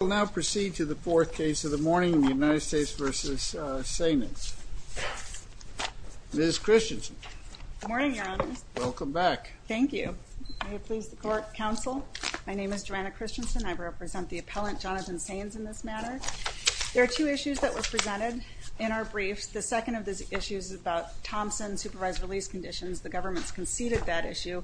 We'll now proceed to the fourth case of the morning, the United States v. Sainz. Ms. Christensen. Good morning, Your Honor. Welcome back. Thank you. May it please the Court, counsel. My name is Joanna Christensen. I represent the appellant Jonathon Sainz in this matter. There are two issues that were presented in our briefs. The second of these issues is about Thompson supervised release conditions. The government's conceded that issue,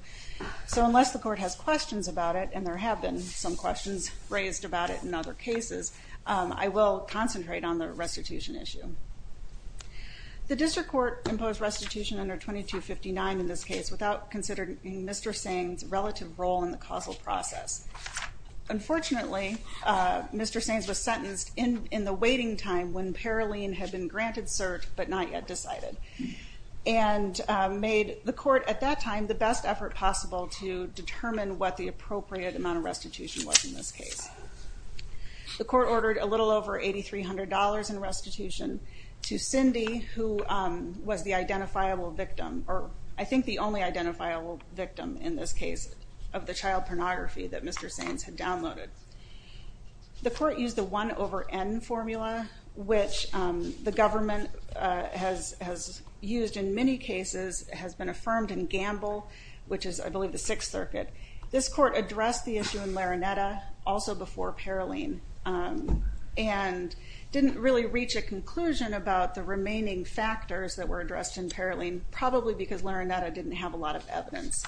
so unless the court has questions about it, and there have been some questions raised about it in other cases, I will concentrate on the restitution issue. The district court imposed restitution under 2259 in this case without considering Mr. Sainz's relative role in the causal process. Unfortunately, Mr. Sainz was sentenced in the waiting time when Paroline had been granted cert but not yet decided, and made the court at that time the best effort possible to determine what the appropriate amount of restitution was in this case. The court ordered a little over $8,300 in restitution to Cindy, who was the identifiable victim, or I think the only identifiable victim in this case, of the child pornography that Mr. Sainz had downloaded. The court used the 1 over N formula, which the government has used in many cases, has been affirmed in Gamble, which is I believe the Sixth Circuit. This court addressed the issue in Larinetta, also before Paroline, and didn't really reach a conclusion about the remaining factors that were addressed in Paroline, probably because Larinetta didn't have a lot of evidence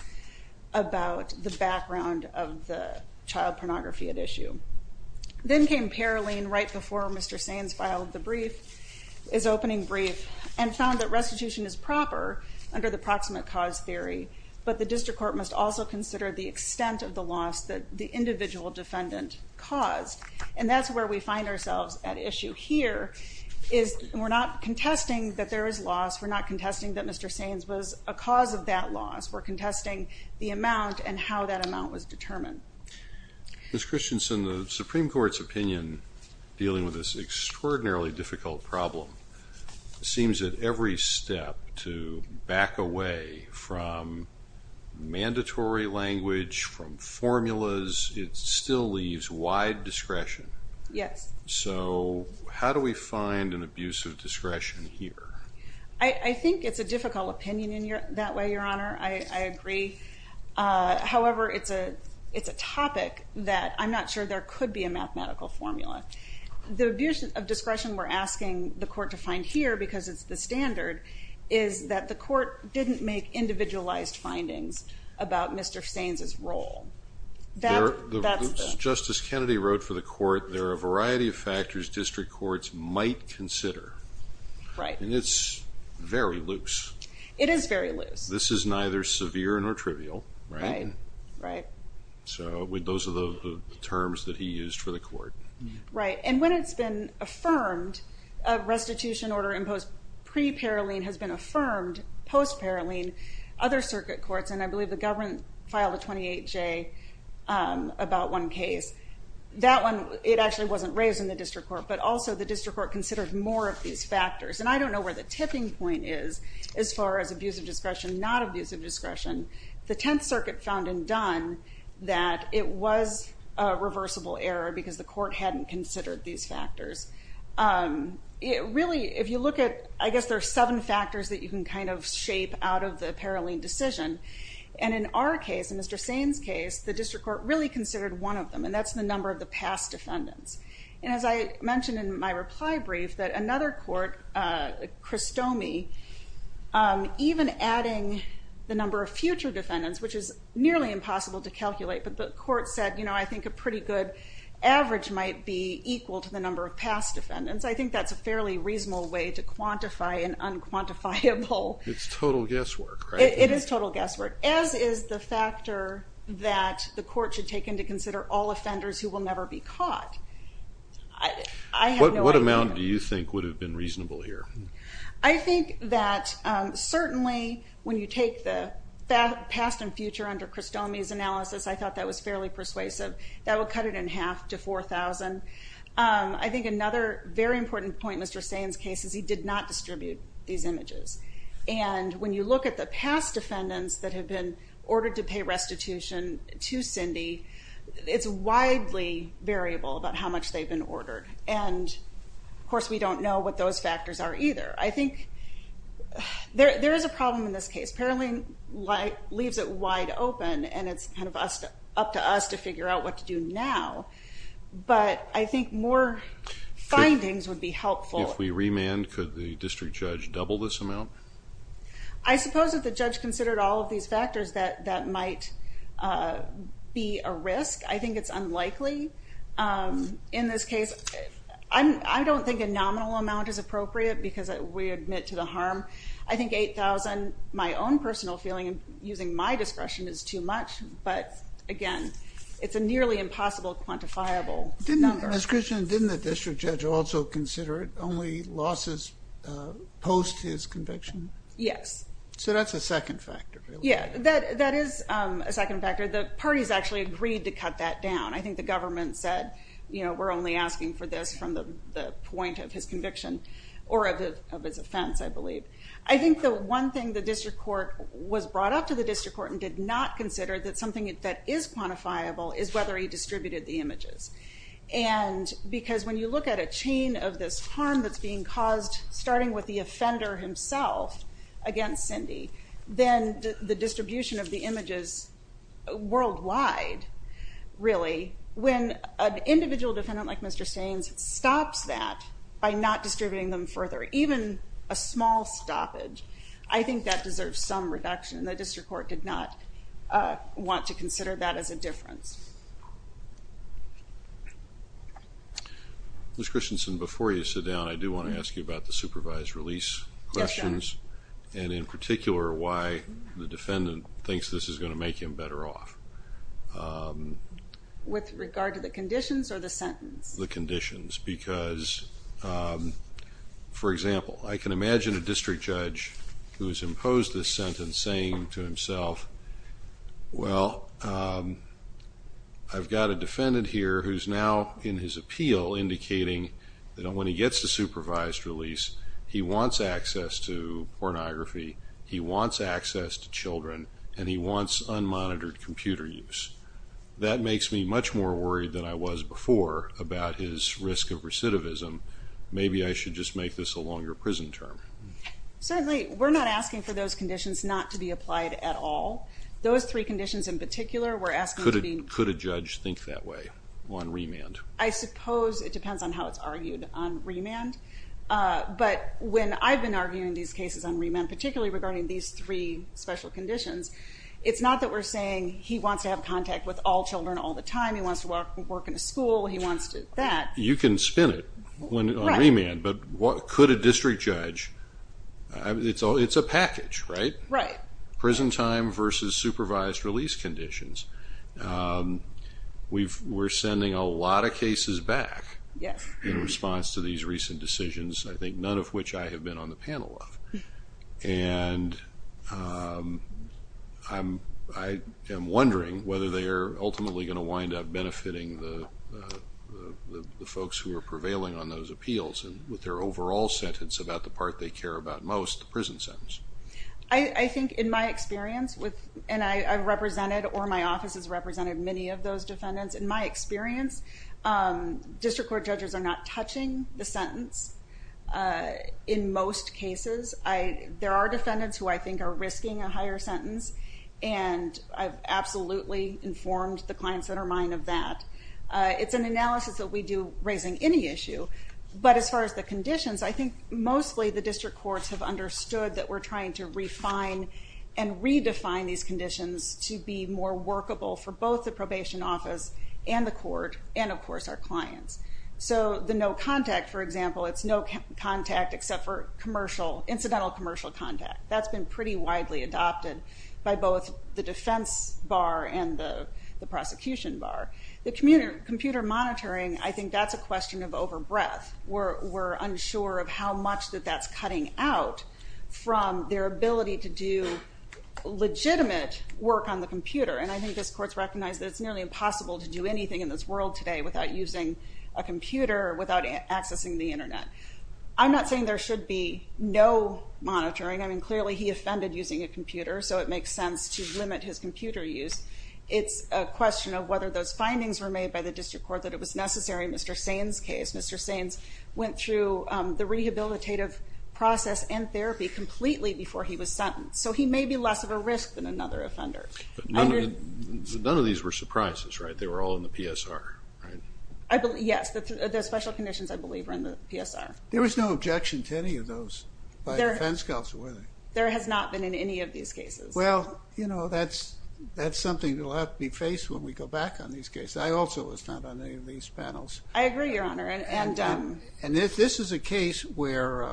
about the background of the child pornography at issue. Then came Mr. Sainz filed the brief, his opening brief, and found that restitution is proper under the proximate cause theory, but the district court must also consider the extent of the loss that the individual defendant caused. And that's where we find ourselves at issue here, is we're not contesting that there is loss, we're not contesting that Mr. Sainz was a cause of that loss, we're contesting the amount and how that amount was determined. Ms. Christensen, the Supreme Court has a extraordinarily difficult problem. It seems that every step to back away from mandatory language, from formulas, it still leaves wide discretion. Yes. So, how do we find an abuse of discretion here? I think it's a difficult opinion in that way, Your Honor. I agree. However, it's a topic that I'm not sure there could be a mathematical formula. The abuse of discretion we're asking the court to find here, because it's the standard, is that the court didn't make individualized findings about Mr. Sainz's role. Justice Kennedy wrote for the court, there are a variety of factors district courts might consider. Right. And it's very loose. It is very loose. This is neither severe nor trivial, right? Right. So, those are the terms that he used for the court. Right, and when it's been affirmed, restitution order imposed pre-Paroline has been affirmed post-Paroline, other circuit courts, and I believe the government filed a 28-J about one case, that one, it actually wasn't raised in the district court, but also the district court considered more of these factors, and I don't know where the tipping point is as far as abuse of discretion, not abuse of discretion. The Tenth Circuit found in Dunn that it was a reversible error because the court hadn't considered these factors. It really, if you look at, I guess there are seven factors that you can kind of shape out of the Paroline decision, and in our case, in Mr. Sainz's case, the district court really considered one of them, and that's the number of the past defendants, and as I mentioned in my reply brief, that another court, Cristomi, even adding the number of future defendants, which is nearly impossible to calculate, but the court said, you know, I think a pretty good average might be equal to the number of past defendants. I think that's a fairly reasonable way to quantify an unquantifiable... It's total guesswork, right? It is total guesswork, as is the factor that the court should take into consider all offenders who will never be caught. What amount do you think would have been reasonable here? I think that certainly when you take the past and future under Cristomi's analysis, I thought that was fairly persuasive. That would cut it in half to 4,000. I think another very important point in Mr. Sainz's case is he did not distribute these images, and when you look at the past defendants that have been ordered to pay restitution to Cindy, it's widely variable about how much they've been ordered, and of course we don't know what those factors are either. I think there is a problem in this case. Paroline leaves it wide open, and it's kind of up to us to figure out what to do now, but I think more findings would be helpful. If we remand, could the district judge consider all of these factors that might be a risk? I think it's unlikely in this case. I don't think a nominal amount is appropriate because we admit to the harm. I think 8,000, my own personal feeling, using my discretion, is too much, but again, it's a nearly impossible quantifiable number. Ms. Christian, didn't the district judge also consider it only losses post his second factor? Yeah, that is a second factor. The parties actually agreed to cut that down. I think the government said, you know, we're only asking for this from the point of his conviction or of his offense, I believe. I think the one thing the district court was brought up to the district court and did not consider that something that is quantifiable is whether he distributed the images, and because when you look at a chain of this harm that's being caused, starting with the offender himself against Cindy, then the distribution of the images worldwide, really, when an individual defendant like Mr. Sainz stops that by not distributing them further, even a small stoppage, I think that deserves some reduction. The district court did not want to consider that as a difference. Ms. Christensen, before you sit down, I do want to ask you about the supervised release questions and, in particular, why the defendant thinks this is going to make him better off. With regard to the conditions or the sentence? The conditions, because, for example, I can imagine a district judge who has imposed this sentence saying to himself, well, I've got a defendant here who's now, in his appeal, indicating that when he gets the supervised release, he wants access to pornography, he wants access to children, and he wants unmonitored computer use. That makes me much more worried than I was before about his risk of recidivism. Maybe I should just make this a longer prison term. Certainly, we're not asking for those conditions not to be applied at all. Those three conditions, in particular, we're asking... Could a judge think that way on remand? I suppose it depends on how it's argued on remand, but when I've been arguing these cases on remand, particularly regarding these three special conditions, it's not that we're saying he wants to have contact with all children all the time, he wants to work in a school, he wants that. You can spin it on remand, but could a district judge... It's a package, right? Right. Prison time versus supervised release conditions. We're sending a lot of cases back in response to these recent decisions, I think none of which I have been on the panel of. I am wondering whether they are ultimately going to wind up benefiting the folks who are prevailing on those appeals with their overall sentence about the part they care about most, the sentence. I think in my experience, and I've represented or my office has represented many of those defendants, in my experience, district court judges are not touching the sentence in most cases. There are defendants who I think are risking a higher sentence and I've absolutely informed the clients that are mine of that. It's an analysis that we do raising any issue, but as far as the conditions, I think mostly the district courts have understood that we're trying to refine and redefine these conditions to be more workable for both the probation office and the court and, of course, our clients. So the no contact, for example, it's no contact except for commercial, incidental commercial contact. That's been pretty widely adopted by both the defense bar and the prosecution bar. The computer monitoring, I think that's a question of their ability to do legitimate work on the computer and I think this court's recognized that it's nearly impossible to do anything in this world today without using a computer, without accessing the Internet. I'm not saying there should be no monitoring. I mean, clearly he offended using a computer so it makes sense to limit his computer use. It's a question of whether those findings were made by the district court that it was necessary in Mr. Sain's case. completely before he was sentenced, so he may be less of a risk than another offender. None of these were surprises, right? They were all in the PSR, right? Yes, the special conditions, I believe, are in the PSR. There was no objection to any of those by defense counsel, were there? There has not been in any of these cases. Well, you know, that's something that'll have to be faced when we go back on these cases. I also was not on any of these panels. I agree, Your case where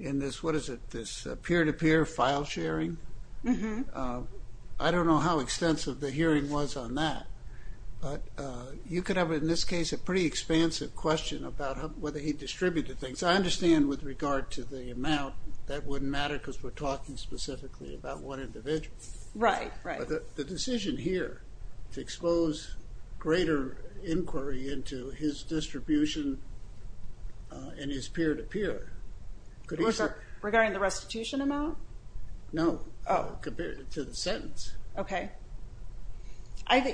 in this, what is it, this peer-to-peer file sharing, I don't know how extensive the hearing was on that, but you could have, in this case, a pretty expansive question about whether he distributed things. I understand with regard to the amount, that wouldn't matter because we're talking specifically about one individual. Right, right. The decision here to expose greater inquiry into his distribution and his peer-to-peer. Regarding the restitution amount? No, compared to the sentence. Okay.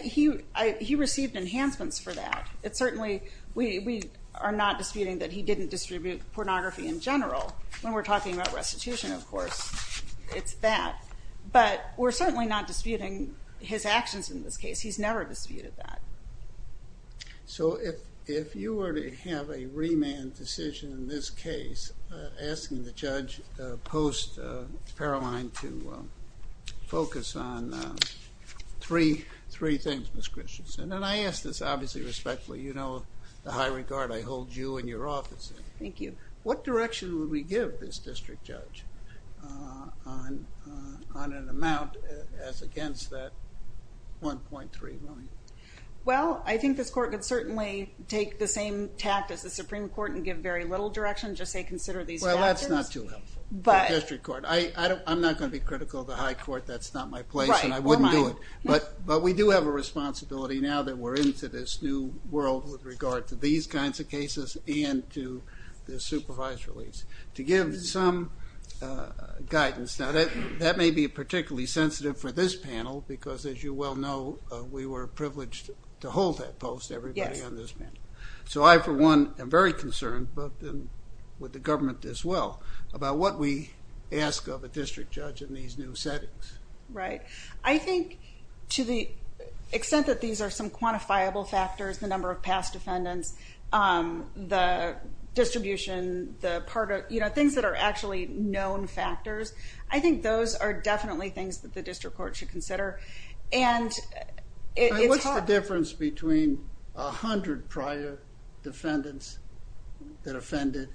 He received enhancements for that. It's certainly, we are not disputing that he didn't distribute pornography in general when we're talking about restitution, of course. It's that, but we're certainly not disputing his actions in this case. He's never disputed that. So, if you were to have a remand decision in this case, asking the judge post-Paroline to focus on three things, Ms. Christensen, and I ask this obviously respectfully. You know the high regard I hold you and your office in. Thank you. What direction would we give this district judge on an amount as against that 1.3 million? Well, I think this court could certainly take the same tact as the Supreme Court and give very little direction, just say consider these factors. Well, that's not too helpful. But. The district court. I'm not going to be critical of the high court, that's not my place and I wouldn't do it. But we do have a responsibility now that we're into this new world with regard to these kinds of cases and to the supervised release. To give some guidance, now that may be a particularly sensitive for this panel because, as you well know, we were privileged to hold that post, everybody on this panel. So, I for one am very concerned, but then with the government as well, about what we ask of a district judge in these new settings. Right. I think to the extent that these are some quantifiable factors, the number of past defendants, the distribution, the part of, you know, things that are actually known factors, I think those are definitely things that the district court should consider. And what's the difference between a hundred prior defendants that offended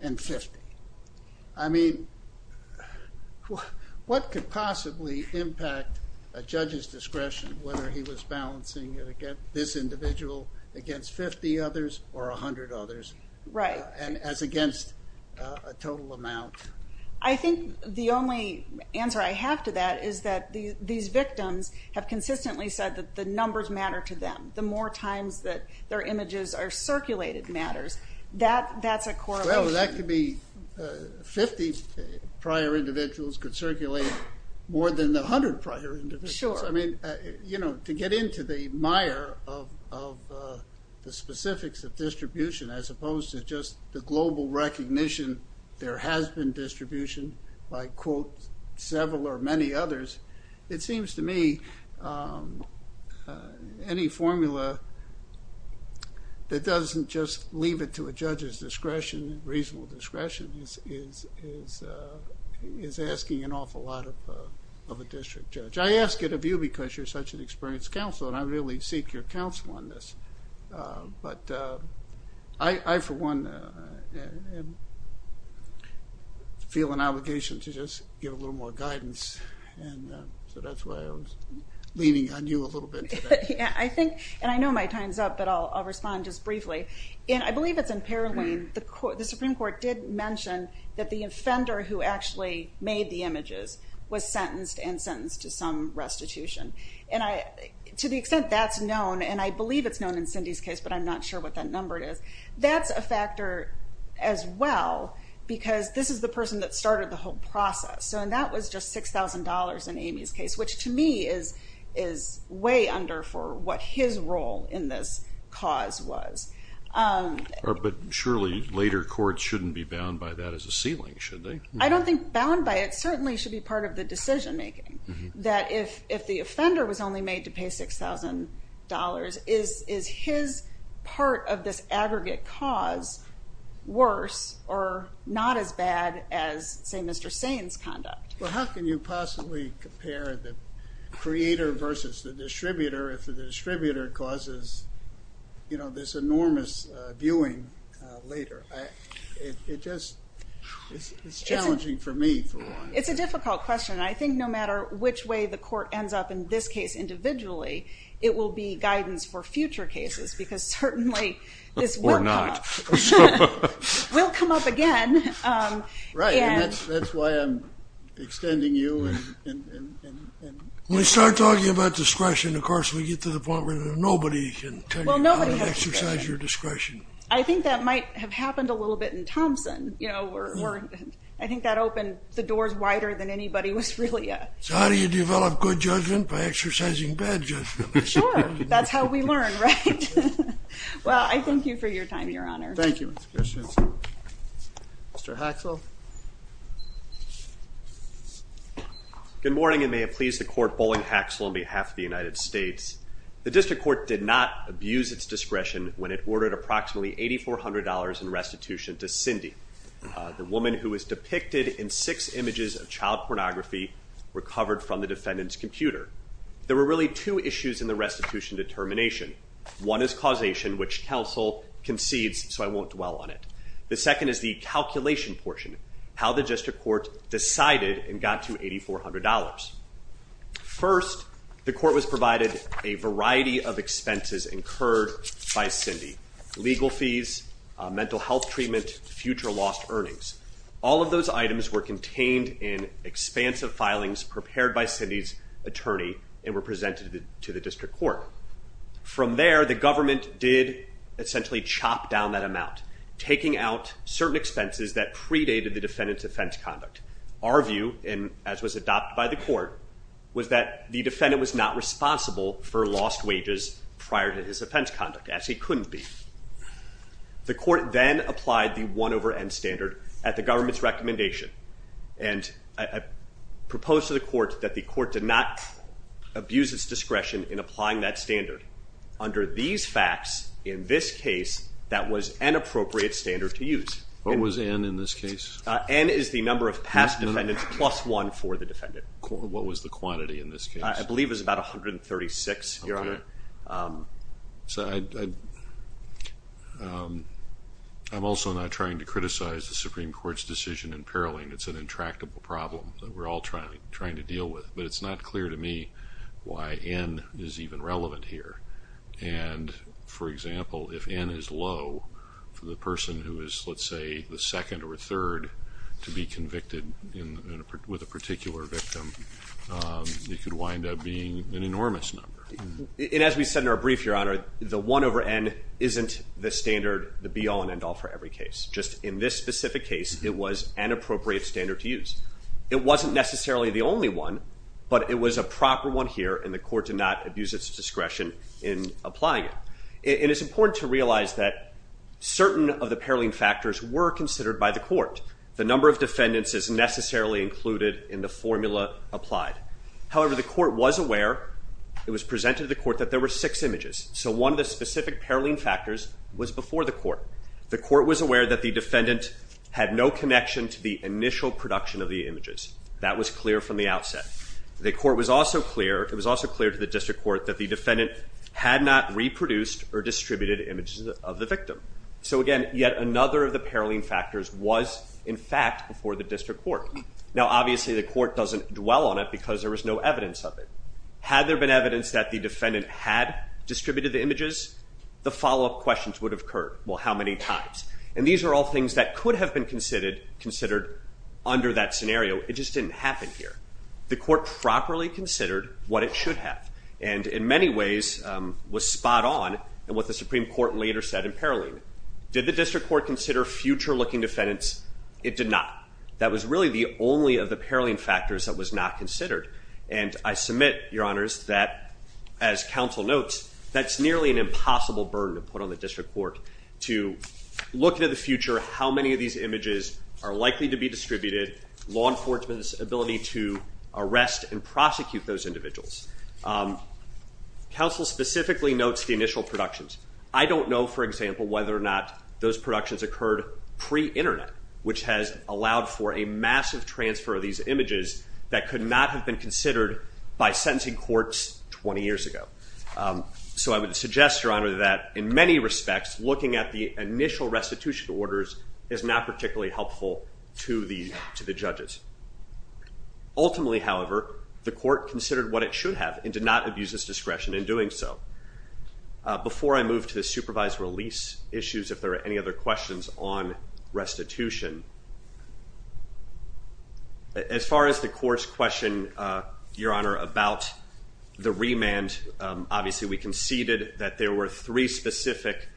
and 50? I mean, what could possibly impact a judge's discretion whether he was balancing this individual against 50 others or a hundred others. Right. And as against a total amount. I think the only answer I have to that is that these victims have consistently said that the numbers matter to them. The more times that their images are circulated matters. That's a correlation. Well, that could be 50 prior individuals could circulate more than the hundred prior individuals. I mean, you know, to get into the specifics of distribution as opposed to just the global recognition there has been distribution by, quote, several or many others, it seems to me any formula that doesn't just leave it to a judge's discretion, reasonable discretion, is asking an awful lot of a district judge. I ask it of you because you're such an experienced counsel and I really seek your counsel on this. But I, for one, feel an obligation to just give a little more guidance and so that's why I was leaning on you a little bit. I think, and I know my time's up, but I'll respond just briefly. And I believe it's in Paroline, the Supreme Court did mention that the offender who actually made the images was sentenced and sentenced to some restitution. And I, to the extent that's known, and I believe it's known in Cindy's case but I'm not sure what that number is, that's a factor as well because this is the person that started the whole process. So and that was just $6,000 in Amy's case, which to me is way under for what his role in this cause was. But surely later courts shouldn't be bound by that as a ceiling, should they? I don't think bound by it certainly should be part of the case. But if the offender was only made to pay $6,000, is his part of this aggregate cause worse or not as bad as, say, Mr. Sane's conduct? Well how can you possibly compare the creator versus the distributor if the distributor causes, you know, this enormous viewing later? It just, it's challenging for me. It's a difficult question. I think no matter which way the court ends up in this case individually, it will be guidance for future cases because certainly this will come up. Or not. Will come up again. Right, and that's why I'm extending you. When we start talking about discretion, of course, we get to the point where nobody can tell you how to exercise your discretion. I think that might have happened a little bit in Thompson, you anybody was really at. So how do you develop good judgment? By exercising bad judgment. Sure, that's how we learn, right? Well, I thank you for your time, Your Honor. Thank you, Ms. Christiansen. Mr. Haxel. Good morning and may it please the court Bowling Haxel on behalf of the United States. The district court did not abuse its discretion when it ordered approximately $8,400 in restitution to pornography recovered from the defendant's computer. There were really two issues in the restitution determination. One is causation, which counsel concedes, so I won't dwell on it. The second is the calculation portion. How the district court decided and got to $8,400. First, the court was provided a variety of expenses incurred by Cindy legal fees, mental health treatment, future lost earnings. All of those items were contained in expansive filings prepared by Cindy's attorney and were presented to the district court. From there, the government did essentially chop down that amount, taking out certain expenses that predated the defendant's offense conduct. Our view, and as was adopted by the court, was that the defendant was not responsible for lost wages prior to his offense conduct, as he couldn't be. The court then applied the one over end standard at the government's recommendation. And I proposed to the court that the court did not abuse its discretion in applying that standard. Under these facts, in this case, that was an appropriate standard to use. What was n in this case? N is the number of past defendants plus one for the defendant. What was the quantity in this case? I believe it was about 136, your honor. I'm also not trying to criticize the Supreme Court's decision in Paroline. It's an intractable problem that we're all trying to deal with, but it's not clear to me why n is even relevant here. And, for example, if n is low for the person who is, let's say, the second or third to be convicted with a particular victim, it could wind up being an enormous number. And as we said in our brief, your honor, the one over n isn't the standard, the be-all and end-all for every case. Just in this specific case, it was an appropriate standard to use. It wasn't necessarily the only one, but it was a proper one here, and the court did not abuse its discretion in applying it. And it's important to realize that certain of the Paroline factors were considered by the court. The number of defendants is necessarily included in the formula applied. However, the court was aware, it was presented to the court, that there were six images. So one of the specific Paroline factors was before the court. The court was aware that the defendant had no connection to the initial production of the images. That was clear from the outset. The court was also clear, it was also clear to the district court, that the defendant had not reproduced or distributed images of the victim. So again, yet another of the Paroline factors was, in fact, before the district court. Now, obviously, the court doesn't dwell on it because there was no evidence of it. Had there been evidence that the defendant had distributed the images, the follow-up questions would have occurred. Well, how many times? And these are all things that could have been considered under that scenario. It just didn't happen here. The court properly considered what it should have and, in many ways, was spot on in what the Supreme Court later said in Paroline. Did the district court consider future-looking defendants? It did not. That was really the only of the Paroline factors that was not considered. And I submit, Your Honors, that, as counsel notes, that's nearly an impossible burden to put on the district court, to look into the future how many of these images are likely to be distributed, law enforcement's ability to arrest and prosecute those individuals. Counsel specifically notes the initial productions. I don't know, for example, whether or not those productions occurred pre-internet, which has allowed for a massive transfer of these images that could not have been considered by sentencing courts 20 years ago. So I would suggest, Your Honor, that, in many respects, looking at the initial restitution orders is not particularly helpful to the judges. Ultimately, however, the court considered what it should have and did not abuse its discretion in doing so. Before I move to the supervised release issues, if there are other questions on restitution, as far as the court's question, Your Honor, about the remand, obviously we conceded that there were three specific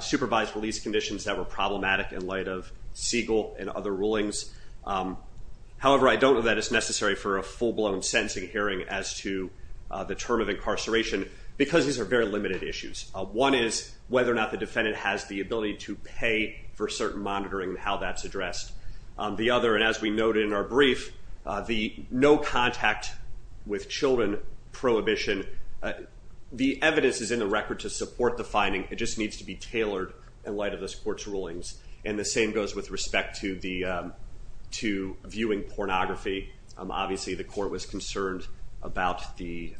supervised release conditions that were problematic in light of Siegel and other rulings. However, I don't know that it's necessary for a full-blown sentencing hearing as to the term of incarceration because these are very limited issues. One is whether or not the defendant has the ability to pay for certain monitoring, how that's addressed. The other, and as we noted in our brief, the no contact with children prohibition, the evidence is in the record to support the finding. It just needs to be tailored in light of this court's rulings. And the same goes with respect to viewing pornography. Obviously, the court was concerned about the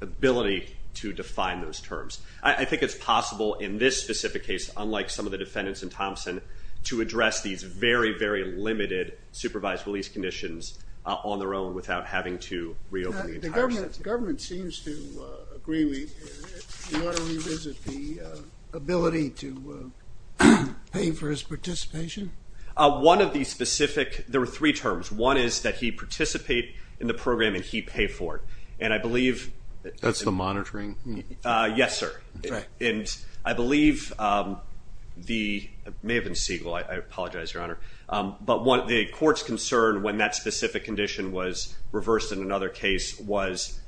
ability to define those terms. I think it's possible in this specific case, unlike some of the defendants in Thompson, to address these very, very limited supervised release conditions on their own without having to reopen the entire system. The government seems to agree we ought to revisit the ability to pay for his participation. One of the specific, there were three terms. One is that he participate in the program and he pay for it. And I believe- That's the monitoring? Yes, sir. Correct. And I believe the, it may have been Siegel, I apologize, Your Honor. But the court's concern when that specific condition was reversed in another case was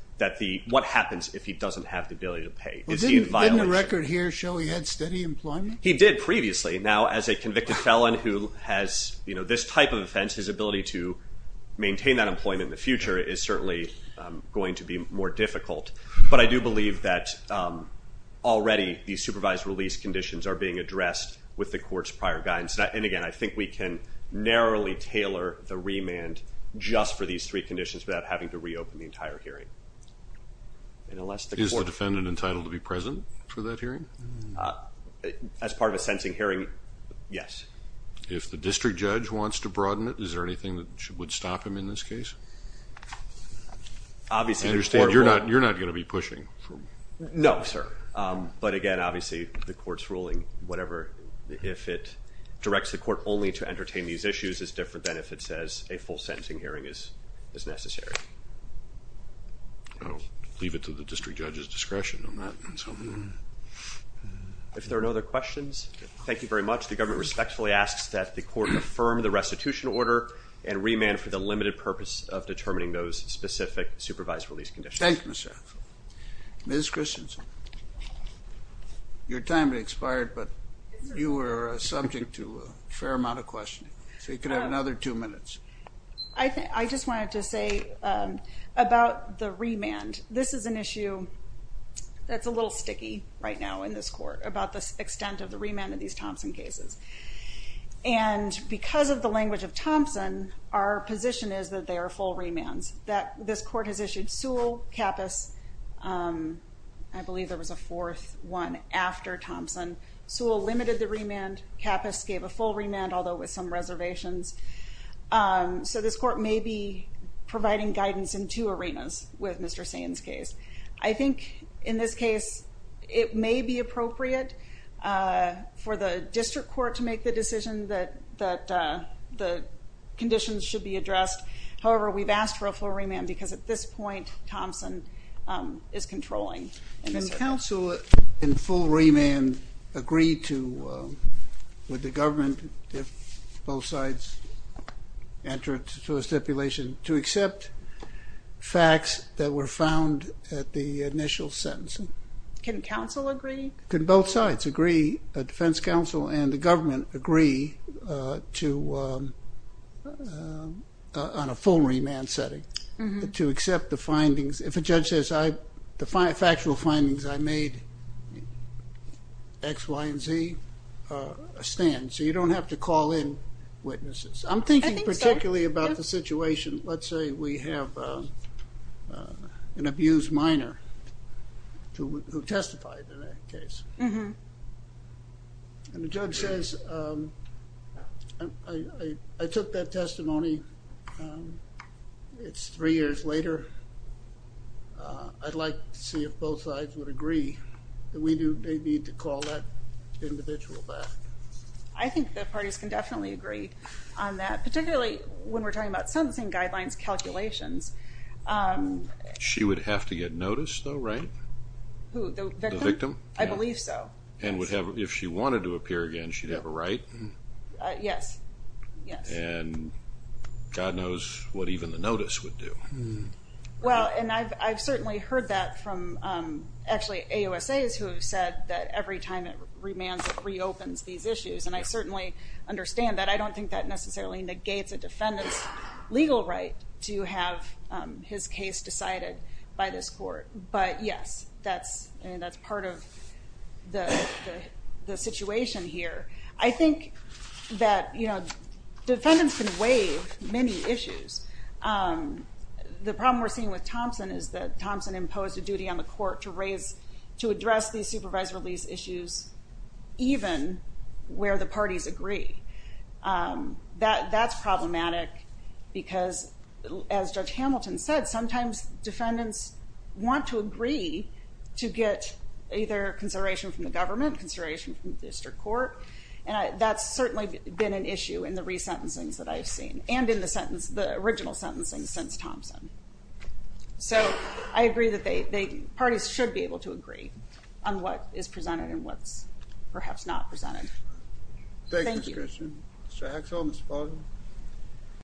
what happens if he doesn't have the ability to pay? Is he in violation? Didn't the record here show he had steady employment? He did previously. Now, as a convicted felon who has this type of offense, his ability to maintain that employment in the future is certainly going to be more difficult. But I do believe that already the supervised release conditions are being addressed with the court's prior guidance. And again, I think we can narrowly tailor the remand just for these three conditions without having to reopen the entire hearing. And unless the court- Is the defendant entitled to be present for that hearing? As part of a sentencing hearing, yes. If the district judge wants to broaden it, is there anything that would stop him in this case? Obviously- I understand you're not going to be pushing. No, sir. But again, obviously the court's ruling, whatever, if it directs the court only to entertain these issues is different than if it says a full sentencing hearing is necessary. I'll leave it to the district judge's discretion on that. So, if there are no other questions, thank you very much. The government respectfully asks that the court affirm the restitution order and remand for the limited purpose of determining those specific supervised release conditions. Thank you, Mr. Axel. Ms. Christensen, your time has expired, but you were subject to a fair amount of questioning, so you could have another two minutes. I just wanted to say about the remand, this is an issue that's a little sticky right now in this court about the extent of the remand of these Thompson cases. And because of the language of Thompson, our position is that they are full remands. This court has issued Sewell, Kappus, I believe there was a fourth one after Thompson. Sewell limited the remand, Kappus gave a full remand, although with some I think in this case, it may be appropriate for the district court to make the decision that the conditions should be addressed. However, we've asked for a full remand because at this point, Thompson is controlling. Can counsel in full remand agree to, with the government, if both at the initial sentencing? Can counsel agree? Could both sides agree, a defense counsel and the government agree to, on a full remand setting, to accept the findings? If a judge says, the factual findings I made, X, Y, and Z, stand. So you don't have to call in witnesses. I'm thinking particularly about the situation, let's say we have an abused minor who testified in that case. And the judge says, I took that testimony, it's three years later, I'd like to see if both sides would agree that we do need to call that individual back. I think that parties can definitely agree on that, particularly when we're talking about sentencing guidelines calculations. She would have to get notice though, right? The victim? I believe so. And would have, if she wanted to appear again, she'd have a right? Yes. And God knows what even the notice would do. Well, and I've certainly heard that from actually AUSAs who have said that every time it remands, it reopens these issues. And I certainly understand that. I don't think that necessarily negates a defendant's legal right to have his case decided by this court. But yes, that's part of the situation here. I think that defendants can waive many issues. The problem we're seeing with Thompson is that Thompson imposed a duty on the court to raise, to address these supervised issues even where the parties agree. That's problematic because, as Judge Hamilton said, sometimes defendants want to agree to get either consideration from the government, consideration from the district court, and that's certainly been an issue in the resentencings that I've seen, and in the sentence, the original sentencing since Thompson. So I agree that parties should be able to agree on what is presented and what's perhaps not presented. Thank you. Mr. Axel, Ms. Spaulding.